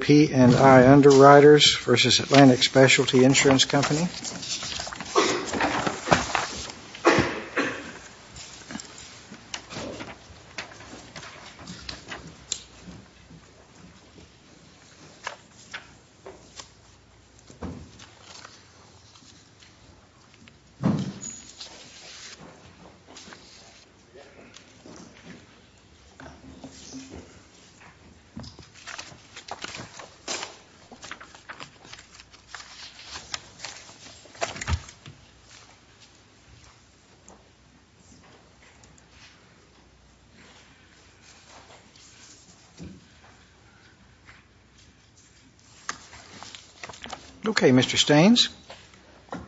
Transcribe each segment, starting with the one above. P&I Underwriters v. Atlantic Specialty Insurance Company Okay, Mr. Staines. Good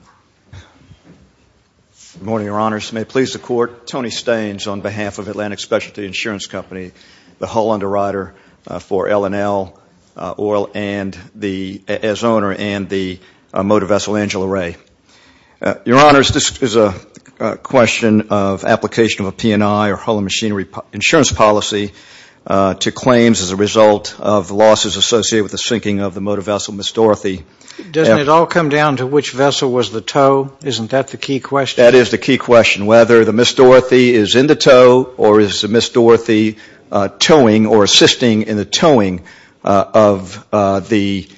morning, Your Honors. May it please the Court, Tony Staines on behalf of Atlantic Specialty Insurance Company, the hull underwriter for L&L Oil as owner and the motor vessel Angela Ray. Your Honors, this is a question of application of a P&I or hull and machinery insurance policy to claims as a result of losses associated with the sinking of the motor vessel Miss Dorothy. Doesn't it all come down to which vessel was the tow? Isn't that the key question? That is the key question, whether the Miss Dorothy is in the tow or is the Miss Dorothy towing or assisting in the towing of the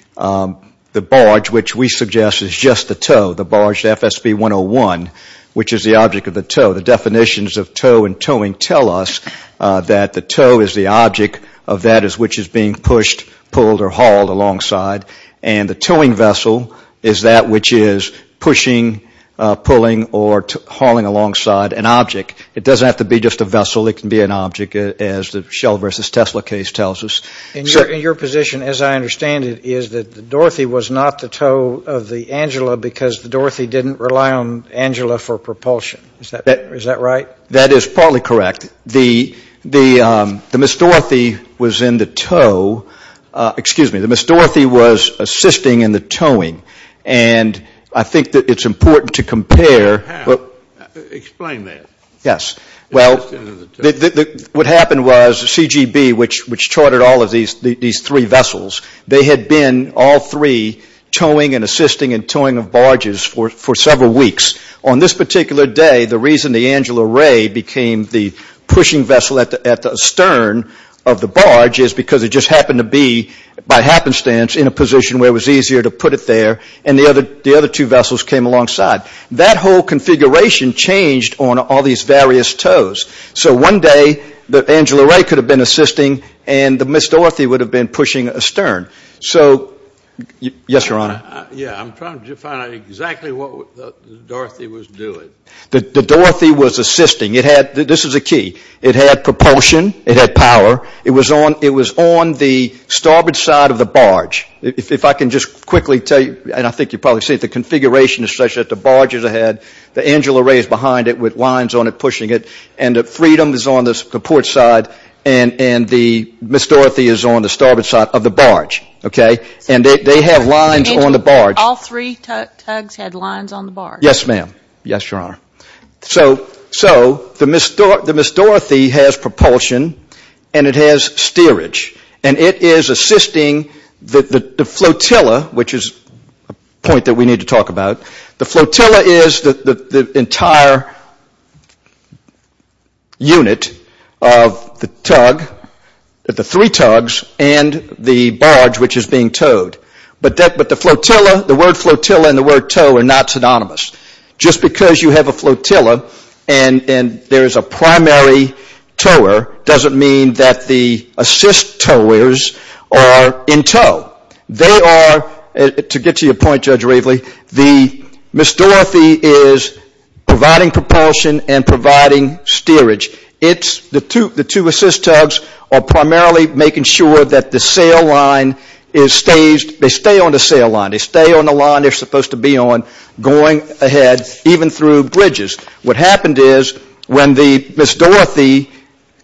barge, which we suggest is just the tow, the barge FSB 101, which is the object of the tow. The definitions of tow and towing tell us that the tow is the object of that which is being pushed, pulled, or hauled alongside. And the towing vessel is that which is pushing, pulling, or hauling alongside an object. It doesn't have to be just a vessel. It can be an object, as the Shell versus Tesla case tells us. And your position, as I understand it, is that the Dorothy was not the tow of the Angela because the Dorothy didn't rely on Angela for propulsion. Is that right? That is partly correct. The Miss Dorothy was in the tow. Excuse me. The Miss Dorothy was assisting in the towing. And I think that it's important to compare. Explain that. Yes. Well, what happened was CGB, which charted all of these three vessels, they had been all three towing and assisting and towing of barges for several weeks. On this particular day, the reason the Angela Ray became the pushing vessel at the stern of the barge is because it just happened to be, by happenstance, in a position where it was easier to put it there, and the other two vessels came alongside. That whole configuration changed on all these various tows. So one day, the Angela Ray could have been assisting and the Miss Dorothy would have been pushing a stern. So, yes, Your Honor. Yeah, I'm trying to find out exactly what the Dorothy was doing. The Dorothy was assisting. This is the key. It had propulsion. It had power. It was on the starboard side of the barge. If I can just quickly tell you, and I think you probably see it, the configuration is such that the barge is ahead, the Angela Ray is behind it with lines on it pushing it, and the Freedom is on the port side, and the Miss Dorothy is on the starboard side of the barge. Okay? And they have lines on the barge. Yes, ma'am. Yes, Your Honor. So the Miss Dorothy has propulsion and it has steerage, and it is assisting the flotilla, which is a point that we need to talk about. The flotilla is the entire unit of the tug, the three tugs, and the barge, which is being towed. But the flotilla, the word flotilla and the word tow are not synonymous. Just because you have a flotilla and there is a primary tower doesn't mean that the assist towers are in tow. They are, to get to your point, Judge Raveley, the Miss Dorothy is providing propulsion and providing steerage. It's the two assist tugs are primarily making sure that the sail line is staged. They stay on the sail line. They stay on the line they are supposed to be on going ahead, even through bridges. What happened is when the Miss Dorothy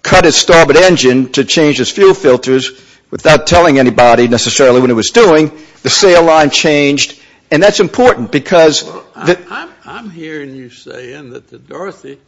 cut its starboard engine to change its fuel filters without telling anybody necessarily what it was doing, the sail line changed, and that's important because Well, I'm hearing you saying that the Dorothy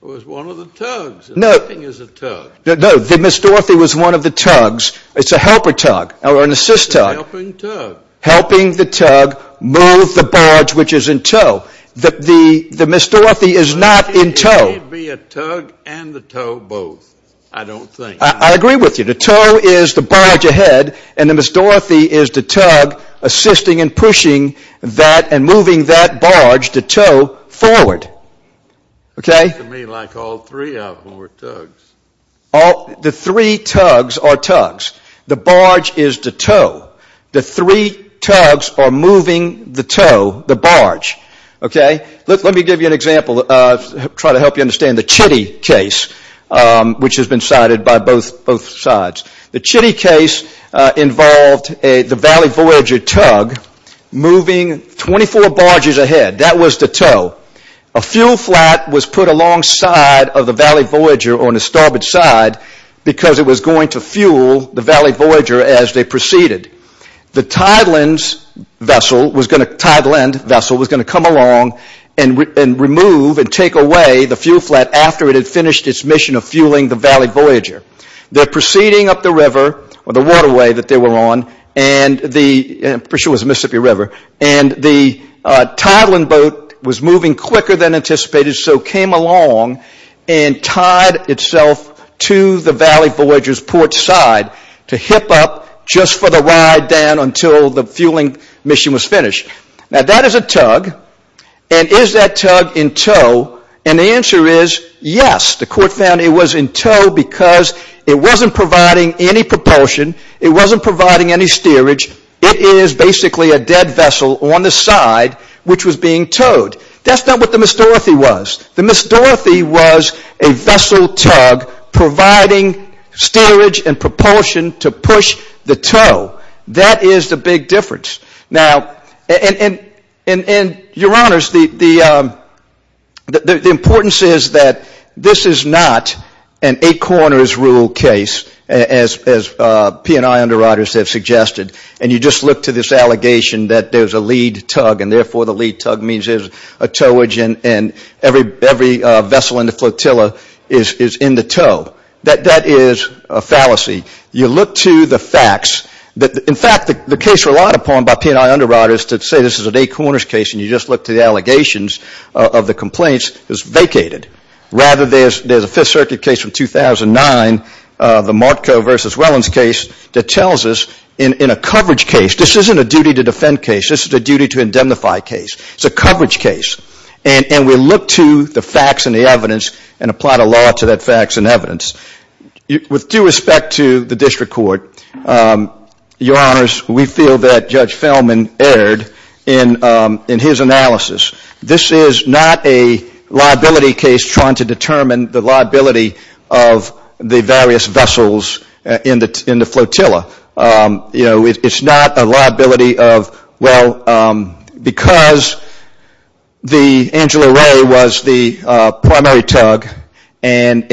was one of the tugs and nothing is a tug. No, the Miss Dorothy was one of the tugs. It's a helper tug or an assist tug. Helping tug. Helping the tug move the barge, which is in tow. The Miss Dorothy is not in tow. It may be a tug and the tow both. I don't think. I agree with you. The tow is the barge ahead, and the Miss Dorothy is the tug assisting and pushing that and moving that barge, the tow, forward. It seems to me like all three of them were tugs. The three tugs are tugs. The barge is the tow. The three tugs are moving the tow, the barge. Let me give you an example to try to help you understand the Chitty case, which has been cited by both sides. The Chitty case involved the Valley Voyager tug moving 24 barges ahead. That was the tow. A fuel flat was put alongside of the Valley Voyager on the starboard side because it was going to fuel the Valley Voyager as they proceeded. The Tideland vessel was going to come along and remove and take away the fuel flat after it had finished its mission of fueling the Valley Voyager. They're proceeding up the river, or the waterway that they were on. And the Tideland boat was moving quicker than anticipated, so it came along and tied itself to the Valley Voyager's port side to hip up just for the ride down until the fueling mission was finished. Now, that is a tug, and is that tug in tow? And the answer is yes. The court found it was in tow because it wasn't providing any propulsion, it wasn't providing any steerage, it is basically a dead vessel on the side which was being towed. That's not what the Miss Dorothy was. The Miss Dorothy was a vessel tug providing steerage and propulsion to push the tow. That is the big difference. Now, and your honors, the importance is that this is not an eight corners rule case, as P&I underwriters have suggested, and you just look to this allegation that there's a lead tug and therefore the lead tug means there's a towage and every vessel in the flotilla is in the tow. That is a fallacy. You look to the facts. In fact, the case relied upon by P&I underwriters to say this is an eight corners case and you just look to the allegations of the complaints is vacated. Rather, there's a Fifth Circuit case from 2009, the Martco v. Wellens case, that tells us in a coverage case, this isn't a duty to defend case, this is a duty to indemnify case. It's a coverage case. And we look to the facts and the evidence and apply the law to that facts and evidence. With due respect to the district court, your honors, we feel that Judge Feldman erred in his analysis. This is not a liability case trying to determine the liability of the various vessels in the flotilla. You know, it's not a liability of, well, because the Angela Ray was the primary tug and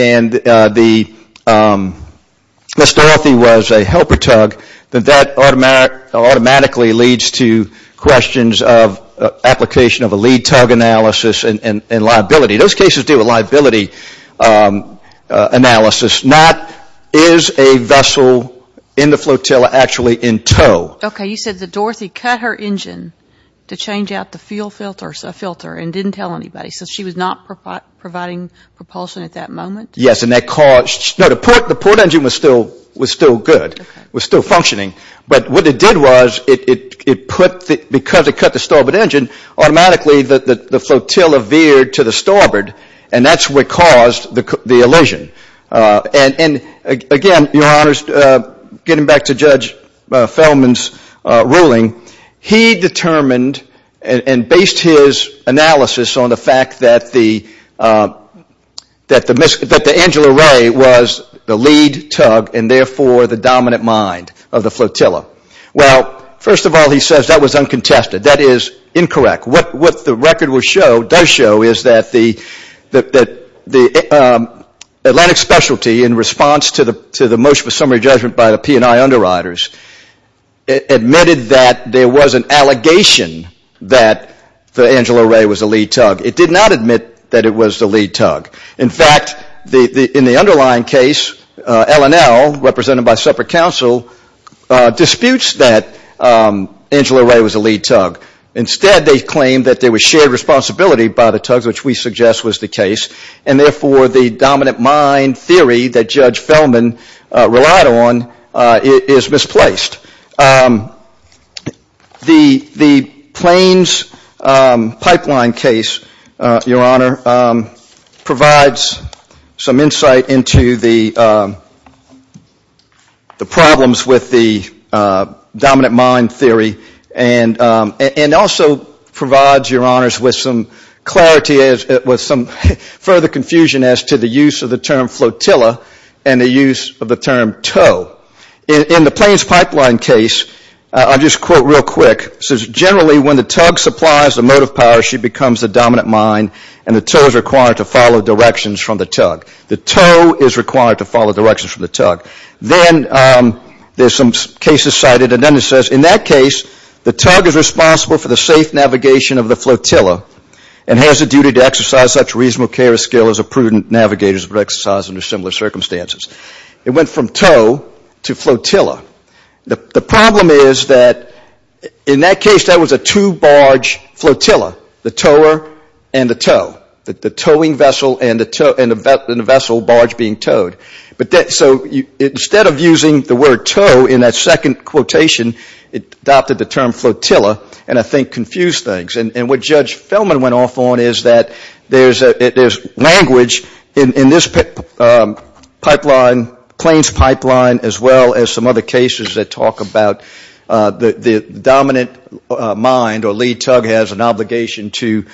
Ms. Dorothy was a helper tug, that automatically leads to questions of application of a lead tug analysis and liability. Those cases deal with liability analysis, not is a vessel in the flotilla actually in tow. Okay. You said that Dorothy cut her engine to change out the fuel filter and didn't tell anybody, so she was not providing propulsion at that moment? Yes. And that caused, no, the port engine was still good, was still functioning. But what it did was it put, because it cut the starboard engine, automatically the flotilla veered to the starboard, and that's what caused the elision. And, again, your honors, getting back to Judge Feldman's ruling, he determined and based his analysis on the fact that the Angela Ray was the lead tug and therefore the dominant mind of the flotilla. Well, first of all, he says that was uncontested. That is incorrect. What the record does show is that the Atlantic Specialty, in response to the motion for summary judgment by the P&I underwriters, admitted that there was an allegation that the Angela Ray was the lead tug. It did not admit that it was the lead tug. In fact, in the underlying case, L&L, represented by separate counsel, disputes that Angela Ray was the lead tug. Instead, they claim that there was shared responsibility by the tugs, which we suggest was the case. And, therefore, the dominant mind theory that Judge Feldman relied on is misplaced. The Plains pipeline case, your honor, provides some insight into the problems with the dominant mind theory and also provides, your honors, with some clarity, with some further confusion as to the use of the term flotilla and the use of the term tow. In the Plains pipeline case, I'll just quote real quick. It says, generally, when the tug supplies the motive power, she becomes the dominant mind and the tow is required to follow directions from the tug. The tow is required to follow directions from the tug. Then there's some cases cited. And then it says, in that case, the tug is responsible for the safe navigation of the flotilla and has a duty to exercise such reasonable care and skill as a prudent navigator would exercise under similar circumstances. It went from tow to flotilla. The problem is that, in that case, that was a two-barge flotilla, the tower and the tow, the towing vessel and the vessel barge being towed. So instead of using the word tow in that second quotation, it adopted the term flotilla and, I think, confused things. And what Judge Fellman went off on is that there's language in this pipeline, Plains pipeline, as well as some other cases that talk about the dominant mind or lead tug has an obligation to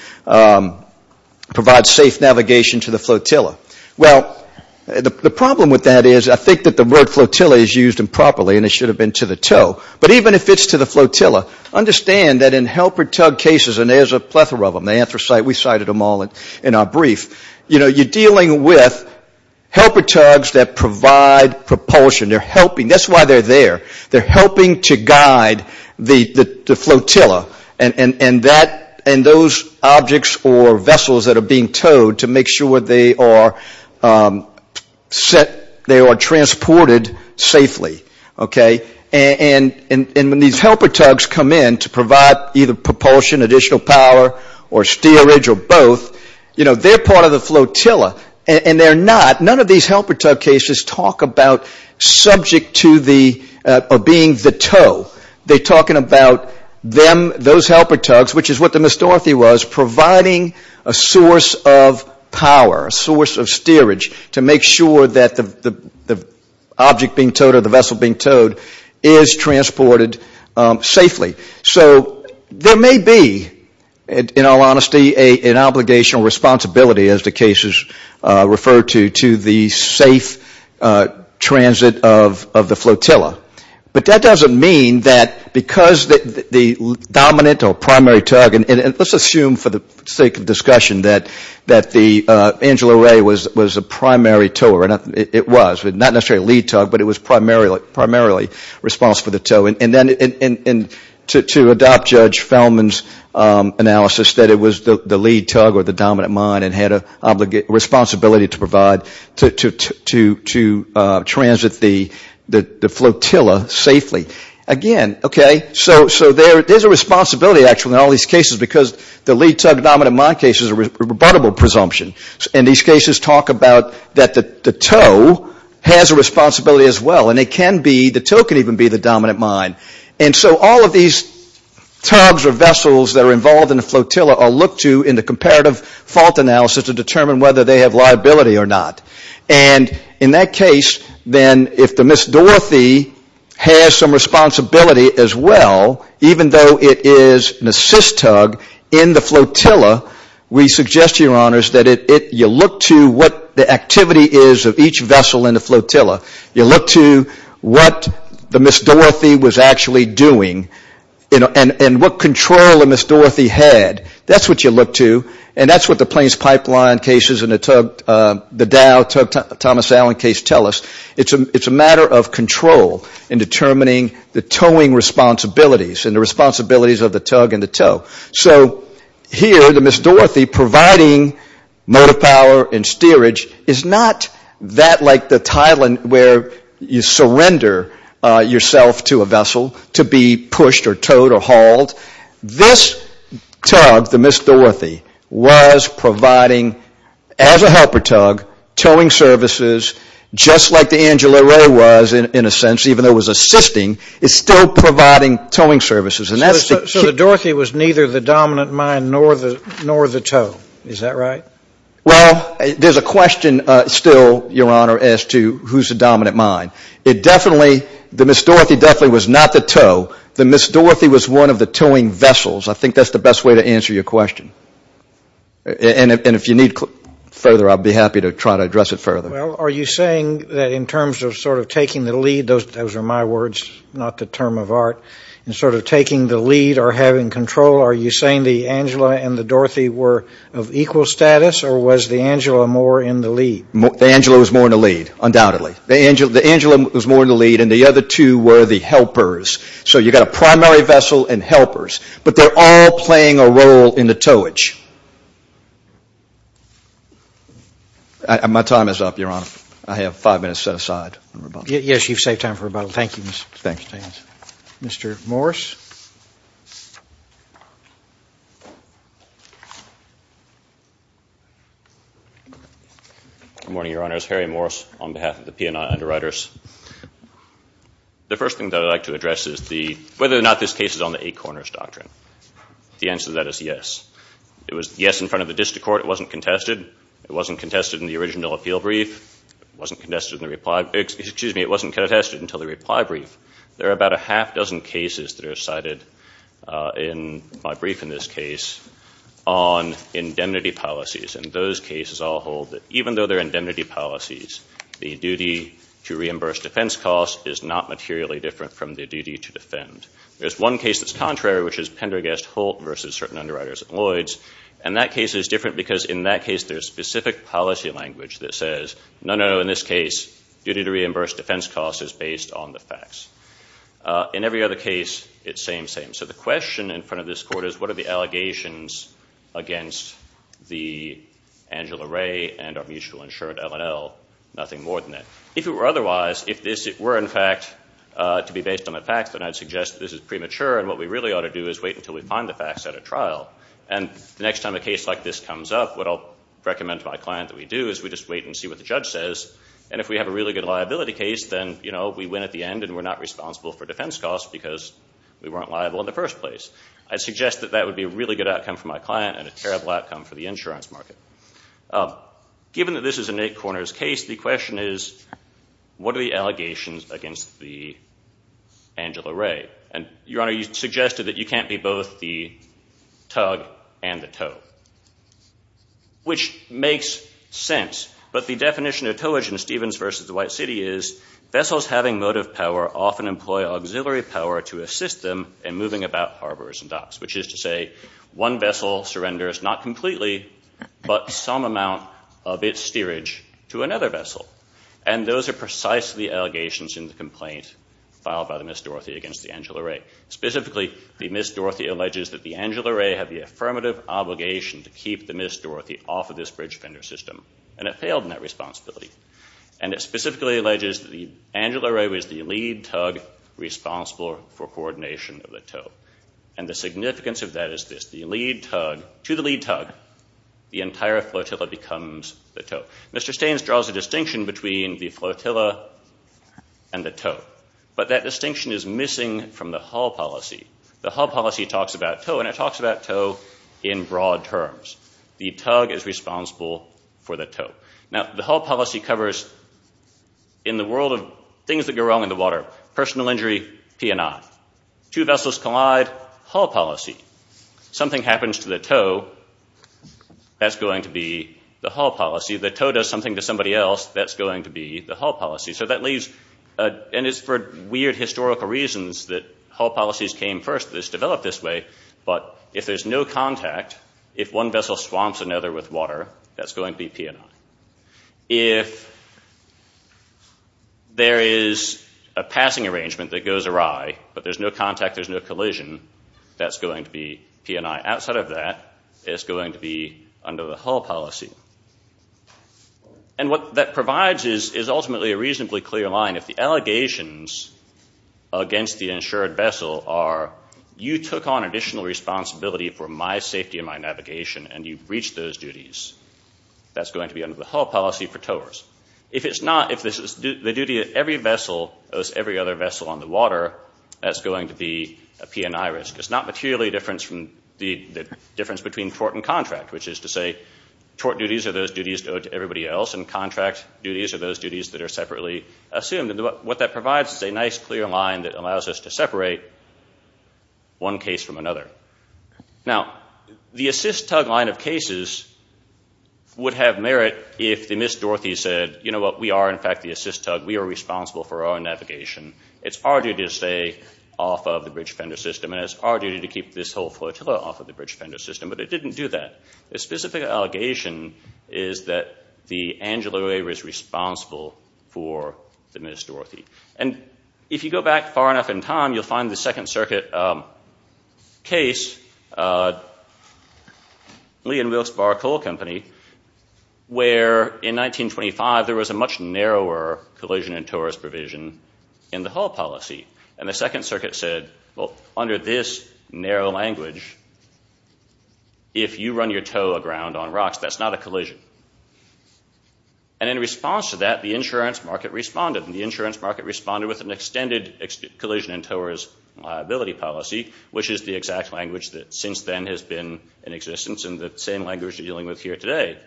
provide safe navigation to the flotilla. Well, the problem with that is I think that the word flotilla is used improperly and it should have been to the tow. But even if it's to the flotilla, understand that in helper tug cases, and there's a plethora of them, the anthracite, we cited them all in our brief, you're dealing with helper tugs that provide propulsion. They're helping. That's why they're there. They're helping to guide the flotilla and those objects or vessels that are being towed to make sure they are transported safely. Okay? And when these helper tugs come in to provide either propulsion, additional power, or steerage or both, you know, they're part of the flotilla and they're not. None of these helper tug cases talk about subject to the or being the tow. They're talking about them, those helper tugs, which is what the misdorothy was, providing a source of power, a source of steerage to make sure that the object being towed or the vessel being towed is transported safely. So there may be, in all honesty, an obligation or responsibility, as the cases refer to, to the safe transit of the flotilla. But that doesn't mean that because the dominant or primary tug, and let's assume for the sake of discussion that the Angela Ray was a primary tower, it was, but not necessarily a lead tug, but it was primarily responsible for the tow. And then to adopt Judge Feldman's analysis that it was the lead tug or the dominant mine that had a responsibility to provide, to transit the flotilla safely. Again, okay, so there's a responsibility actually in all these cases because the lead tug dominant mine case is a rebuttable presumption. And these cases talk about that the tow has a responsibility as well. And it can be, the tow can even be the dominant mine. And so all of these tugs or vessels that are involved in the flotilla are looked to in the comparative fault analysis to determine whether they have liability or not. And in that case, then if the misdorothy has some responsibility as well, even though it is an assist tug in the flotilla, we suggest to your honors that you look to what the activity is of each vessel in the flotilla. You look to what the misdorothy was actually doing and what control the misdorothy had. That's what you look to, and that's what the plains pipeline cases and the Dow tug Thomas Allen case tell us. It's a matter of control in determining the towing responsibilities and the responsibilities of the tug and the tow. So here the misdorothy providing motor power and steerage is not that like the Thailand where you surrender yourself to a vessel to be pushed or towed or hauled. This tug, the misdorothy, was providing as a helper tug, towing services, just like the Angela Ray was in a sense, even though it was assisting, it's still providing towing services. So the dorothy was neither the dominant mind nor the tow. Is that right? Well, there's a question still, your honor, as to who's the dominant mind. It definitely, the misdorothy definitely was not the tow. The misdorothy was one of the towing vessels. I think that's the best way to answer your question. And if you need further, I'll be happy to try to address it further. Well, are you saying that in terms of sort of taking the lead, those are my words, not the term of art, in sort of taking the lead or having control, are you saying the Angela and the dorothy were of equal status or was the Angela more in the lead? The Angela was more in the lead, undoubtedly. The Angela was more in the lead and the other two were the helpers. So you've got a primary vessel and helpers, but they're all playing a role in the towage. My time is up, your honor. I have five minutes set aside. Yes, you've saved time for rebuttal. Thank you. Mr. Morris. Good morning, your honors. Harry Morris on behalf of the P&I Underwriters. The first thing that I'd like to address is whether or not this case is on the eight corners doctrine. The answer to that is yes. It was yes in front of the district court. It wasn't contested. It wasn't contested in the original appeal brief. It wasn't contested in the reply. Excuse me, it wasn't contested until the reply brief. There are about a half dozen cases that are cited in my brief in this case on indemnity policies. And those cases all hold that even though they're indemnity policies, the duty to reimburse defense costs is not materially different from the duty to defend. There's one case that's contrary, which is Pender against Holt versus certain underwriters and Lloyds. And that case is different because in that case there's specific policy language that says, no, no, no, in this case, duty to reimburse defense costs is based on the facts. In every other case, it's same, same. So the question in front of this court is what are the allegations against the Angela Ray and our mutual insured L&L? Nothing more than that. If it were otherwise, if this were in fact to be based on the facts, then I'd suggest this is premature, and what we really ought to do is wait until we find the facts at a trial. And the next time a case like this comes up, what I'll recommend to my client that we do is we just wait and see what the judge says. And if we have a really good liability case, then, you know, we win at the end and we're not responsible for defense costs because we weren't liable in the first place. I'd suggest that that would be a really good outcome for my client and a terrible outcome for the insurance market. Given that this is an eight corners case, the question is what are the allegations against the Angela Ray? And, Your Honor, you suggested that you can't be both the tug and the tow, which makes sense. But the definition of towage in Stevens v. the White City is vessels having motive power often employ auxiliary power to assist them in moving about harbors and docks, which is to say one vessel surrenders not completely, but some amount of its steerage to another vessel. And those are precisely the allegations in the complaint filed by the Miss Dorothy against the Angela Ray. Specifically, the Miss Dorothy alleges that the Angela Ray had the affirmative obligation to keep the Miss Dorothy off of this bridge fender system, and it failed in that responsibility. And it specifically alleges that the Angela Ray was the lead tug responsible for coordination of the tow. And the significance of that is this. The lead tug, to the lead tug, the entire flotilla becomes the tow. Mr. Staines draws a distinction between the flotilla and the tow. But that distinction is missing from the hull policy. The hull policy talks about tow, and it talks about tow in broad terms. The tug is responsible for the tow. Now, the hull policy covers in the world of things that go wrong in the water, personal injury, P&I. Two vessels collide, hull policy. Something happens to the tow, that's going to be the hull policy. The tow does something to somebody else, that's going to be the hull policy. So that leaves, and it's for weird historical reasons that hull policies came first. It was developed this way, but if there's no contact, if one vessel swamps another with water, that's going to be P&I. If there is a passing arrangement that goes awry, but there's no contact, there's no collision, that's going to be P&I. Outside of that, it's going to be under the hull policy. And what that provides is ultimately a reasonably clear line. If the allegations against the insured vessel are, you took on additional responsibility for my safety and my navigation, and you breached those duties, that's going to be under the hull policy for towers. If it's not, if the duty of every vessel owes every other vessel on the water, that's going to be a P&I risk. It's not materially a difference between tort and contract, which is to say, tort duties are those duties owed to everybody else, and contract duties are those duties that are separately assumed. What that provides is a nice clear line that allows us to separate one case from another. Now, the assist tug line of cases would have merit if the Miss Dorothy said, you know what, we are in fact the assist tug, we are responsible for our navigation. It's our duty to stay off of the bridge fender system, and it's our duty to keep this whole flotilla off of the bridge fender system. But it didn't do that. The specific allegation is that the angular waver is responsible for the Miss Dorothy. And if you go back far enough in time, you'll find the Second Circuit case, Lee and Wilkes-Barre Coal Company, where in 1925, there was a much narrower collision and torus provision in the whole policy. And the Second Circuit said, well, under this narrow language, if you run your toe aground on rocks, that's not a collision. And in response to that, the insurance market responded, and the insurance market responded with an extended collision and torus liability policy, which is the exact language that since then has been in existence, and the same language we're dealing with here today.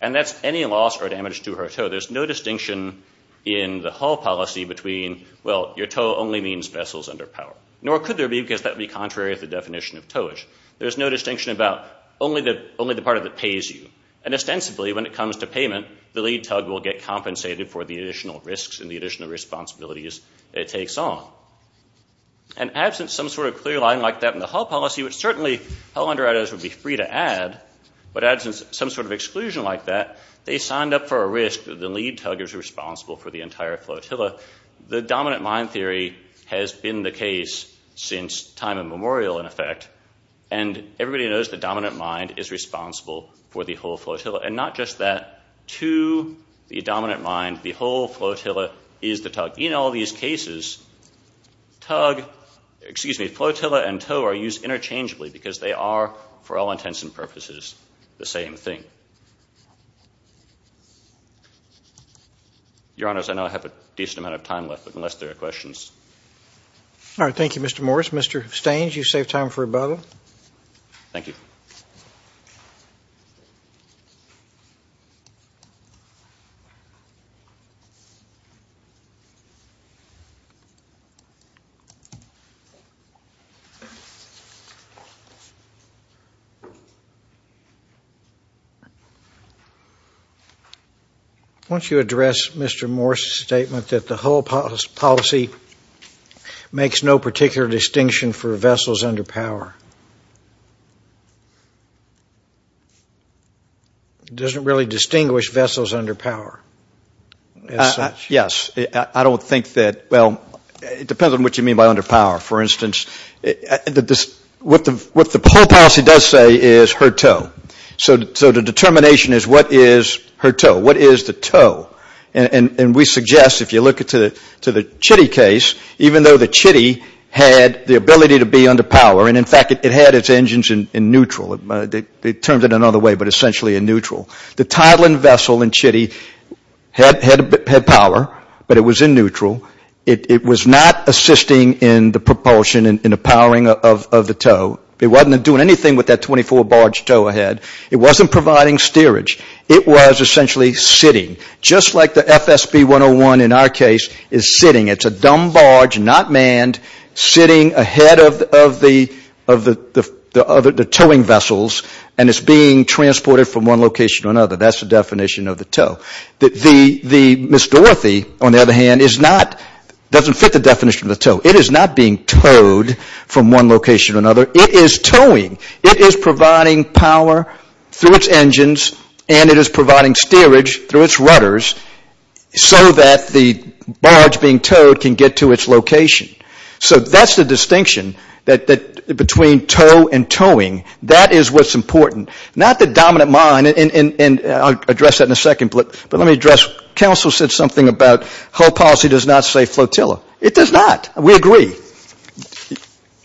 And that's any loss or damage to her toe. There's no distinction in the whole policy between, well, your toe only means vessels under power. Nor could there be, because that would be contrary to the definition of toeage. There's no distinction about only the part of it that pays you. And ostensibly, when it comes to payment, the lead tug will get compensated for the additional risks and the additional responsibilities it takes on. And absent some sort of clear line like that in the whole policy, which certainly hell-under-adows would be free to add, but absent some sort of exclusion like that, they signed up for a risk that the lead tug is responsible for the entire flotilla. The dominant mind theory has been the case since time immemorial, in effect. And everybody knows the dominant mind is responsible for the whole flotilla. And not just that. But in all these cases, flotilla and toe are used interchangeably because they are, for all intents and purposes, the same thing. Your Honors, I know I have a decent amount of time left, but unless there are questions. All right. Thank you, Mr. Morris. Mr. Stange, you've saved time for rebuttal. Thank you. Once you address Mr. Morris' statement that the whole policy makes no particular distinction for vessels under power, it doesn't really distinguish vessels under power as such. Yes. I don't think that, well, it depends on what you mean by under power. For instance, what the whole policy does say is her toe. So the determination is what is her toe. What is the toe? And we suggest if you look at the Chitty case, even though the Chitty had the ability to be under power, and in fact it had its engines in neutral. They termed it another way, but essentially in neutral. The Tideland vessel in Chitty had power, but it was in neutral. It was not assisting in the propulsion and the powering of the toe. It wasn't doing anything with that 24 barge toe ahead. It wasn't providing steerage. It was essentially sitting, just like the FSB-101 in our case is sitting. It's a dumb barge, not manned, sitting ahead of the towing vessels, and it's being transported from one location to another. That's the definition of the toe. The Miss Dorothy, on the other hand, doesn't fit the definition of the toe. It is not being towed from one location to another. It is towing. It is providing power through its engines, and it is providing steerage through its rudders so that the barge being towed can get to its location. So that's the distinction between toe and towing. That is what's important. Not the dominant mind, and I'll address that in a second, but let me address, counsel said something about whole policy does not save flotilla. It does not. We agree.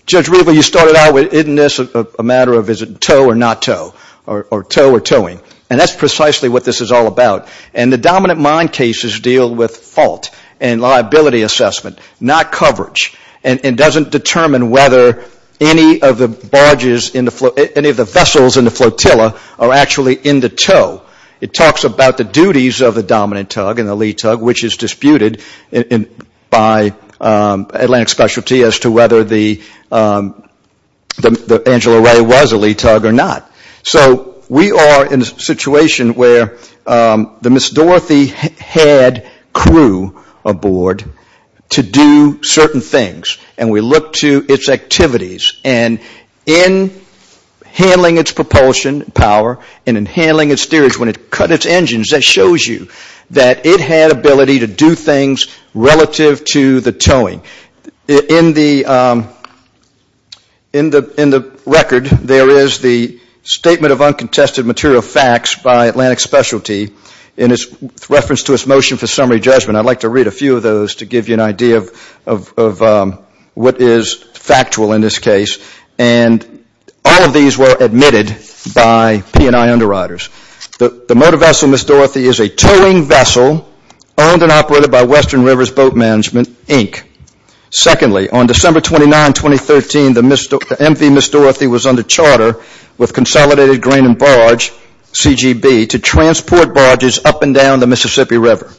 Judge Riva, you started out with isn't this a matter of is it toe or not toe, or toe or towing, and that's precisely what this is all about, and the dominant mind cases deal with fault and liability assessment, not coverage, and it doesn't determine whether any of the vessels in the flotilla are actually in the toe. It talks about the duties of the dominant tug and the lead tug, which is disputed by Atlantic Specialty as to whether the Angela Ray was a lead tug or not. So we are in a situation where the Miss Dorothy had crew aboard to do certain things, and we look to its activities, and in handling its propulsion power and in handling its steerage when it cut its engines, that shows you that it had ability to do things relative to the towing. In the record, there is the statement of uncontested material facts by Atlantic Specialty in reference to its motion for summary judgment. I'd like to read a few of those to give you an idea of what is factual in this case, and all of these were admitted by P&I underwriters. The motor vessel Miss Dorothy is a towing vessel owned and operated by Western Rivers Boat Management, Inc. Secondly, on December 29, 2013, the MV Miss Dorothy was under charter with Consolidated Grain and Barge, CGB, to transport barges up and down the Mississippi River.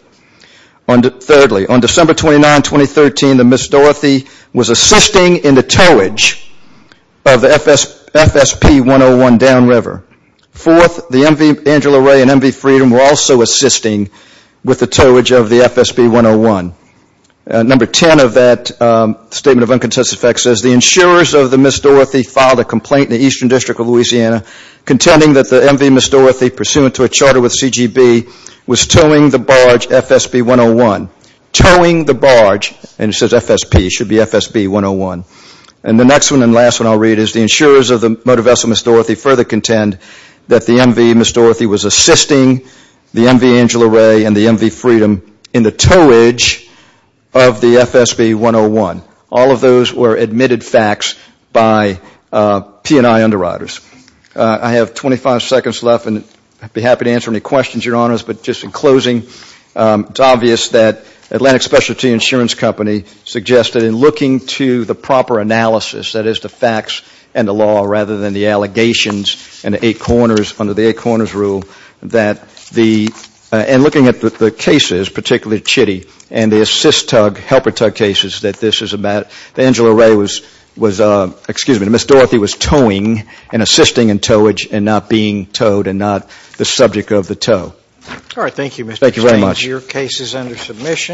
Thirdly, on December 29, 2013, the Miss Dorothy was assisting in the towage of the FSP-101 downriver. Fourth, the MV Angela Ray and MV Freedom were also assisting with the towage of the FSP-101. Number 10 of that statement of uncontested facts says, the insurers of the Miss Dorothy filed a complaint in the Eastern District of Louisiana contending that the MV Miss Dorothy, pursuant to a charter with CGB, was towing the barge FSP-101. Towing the barge, and it says FSP, it should be FSP-101. And the next one and last one I'll read is, the insurers of the motor vessel Miss Dorothy further contend that the MV Miss Dorothy was assisting the MV Angela Ray and the MV Freedom in the towage of the FSP-101. All of those were admitted facts by P&I underwriters. I have 25 seconds left, and I'd be happy to answer any questions, Your Honors. But just in closing, it's obvious that Atlantic Specialty Insurance Company suggested in looking to the proper analysis, that is the facts and the law rather than the allegations and the eight corners under the eight corners rule, that the, and looking at the cases, particularly Chitty and the assist tug, helper tug cases, that this is a matter, that Angela Ray was, was, excuse me, Miss Dorothy was towing and assisting in towage and not being towed and not the subject of the tow. All right, thank you, Mr. St. James. Thank you very much. Your case is under submission.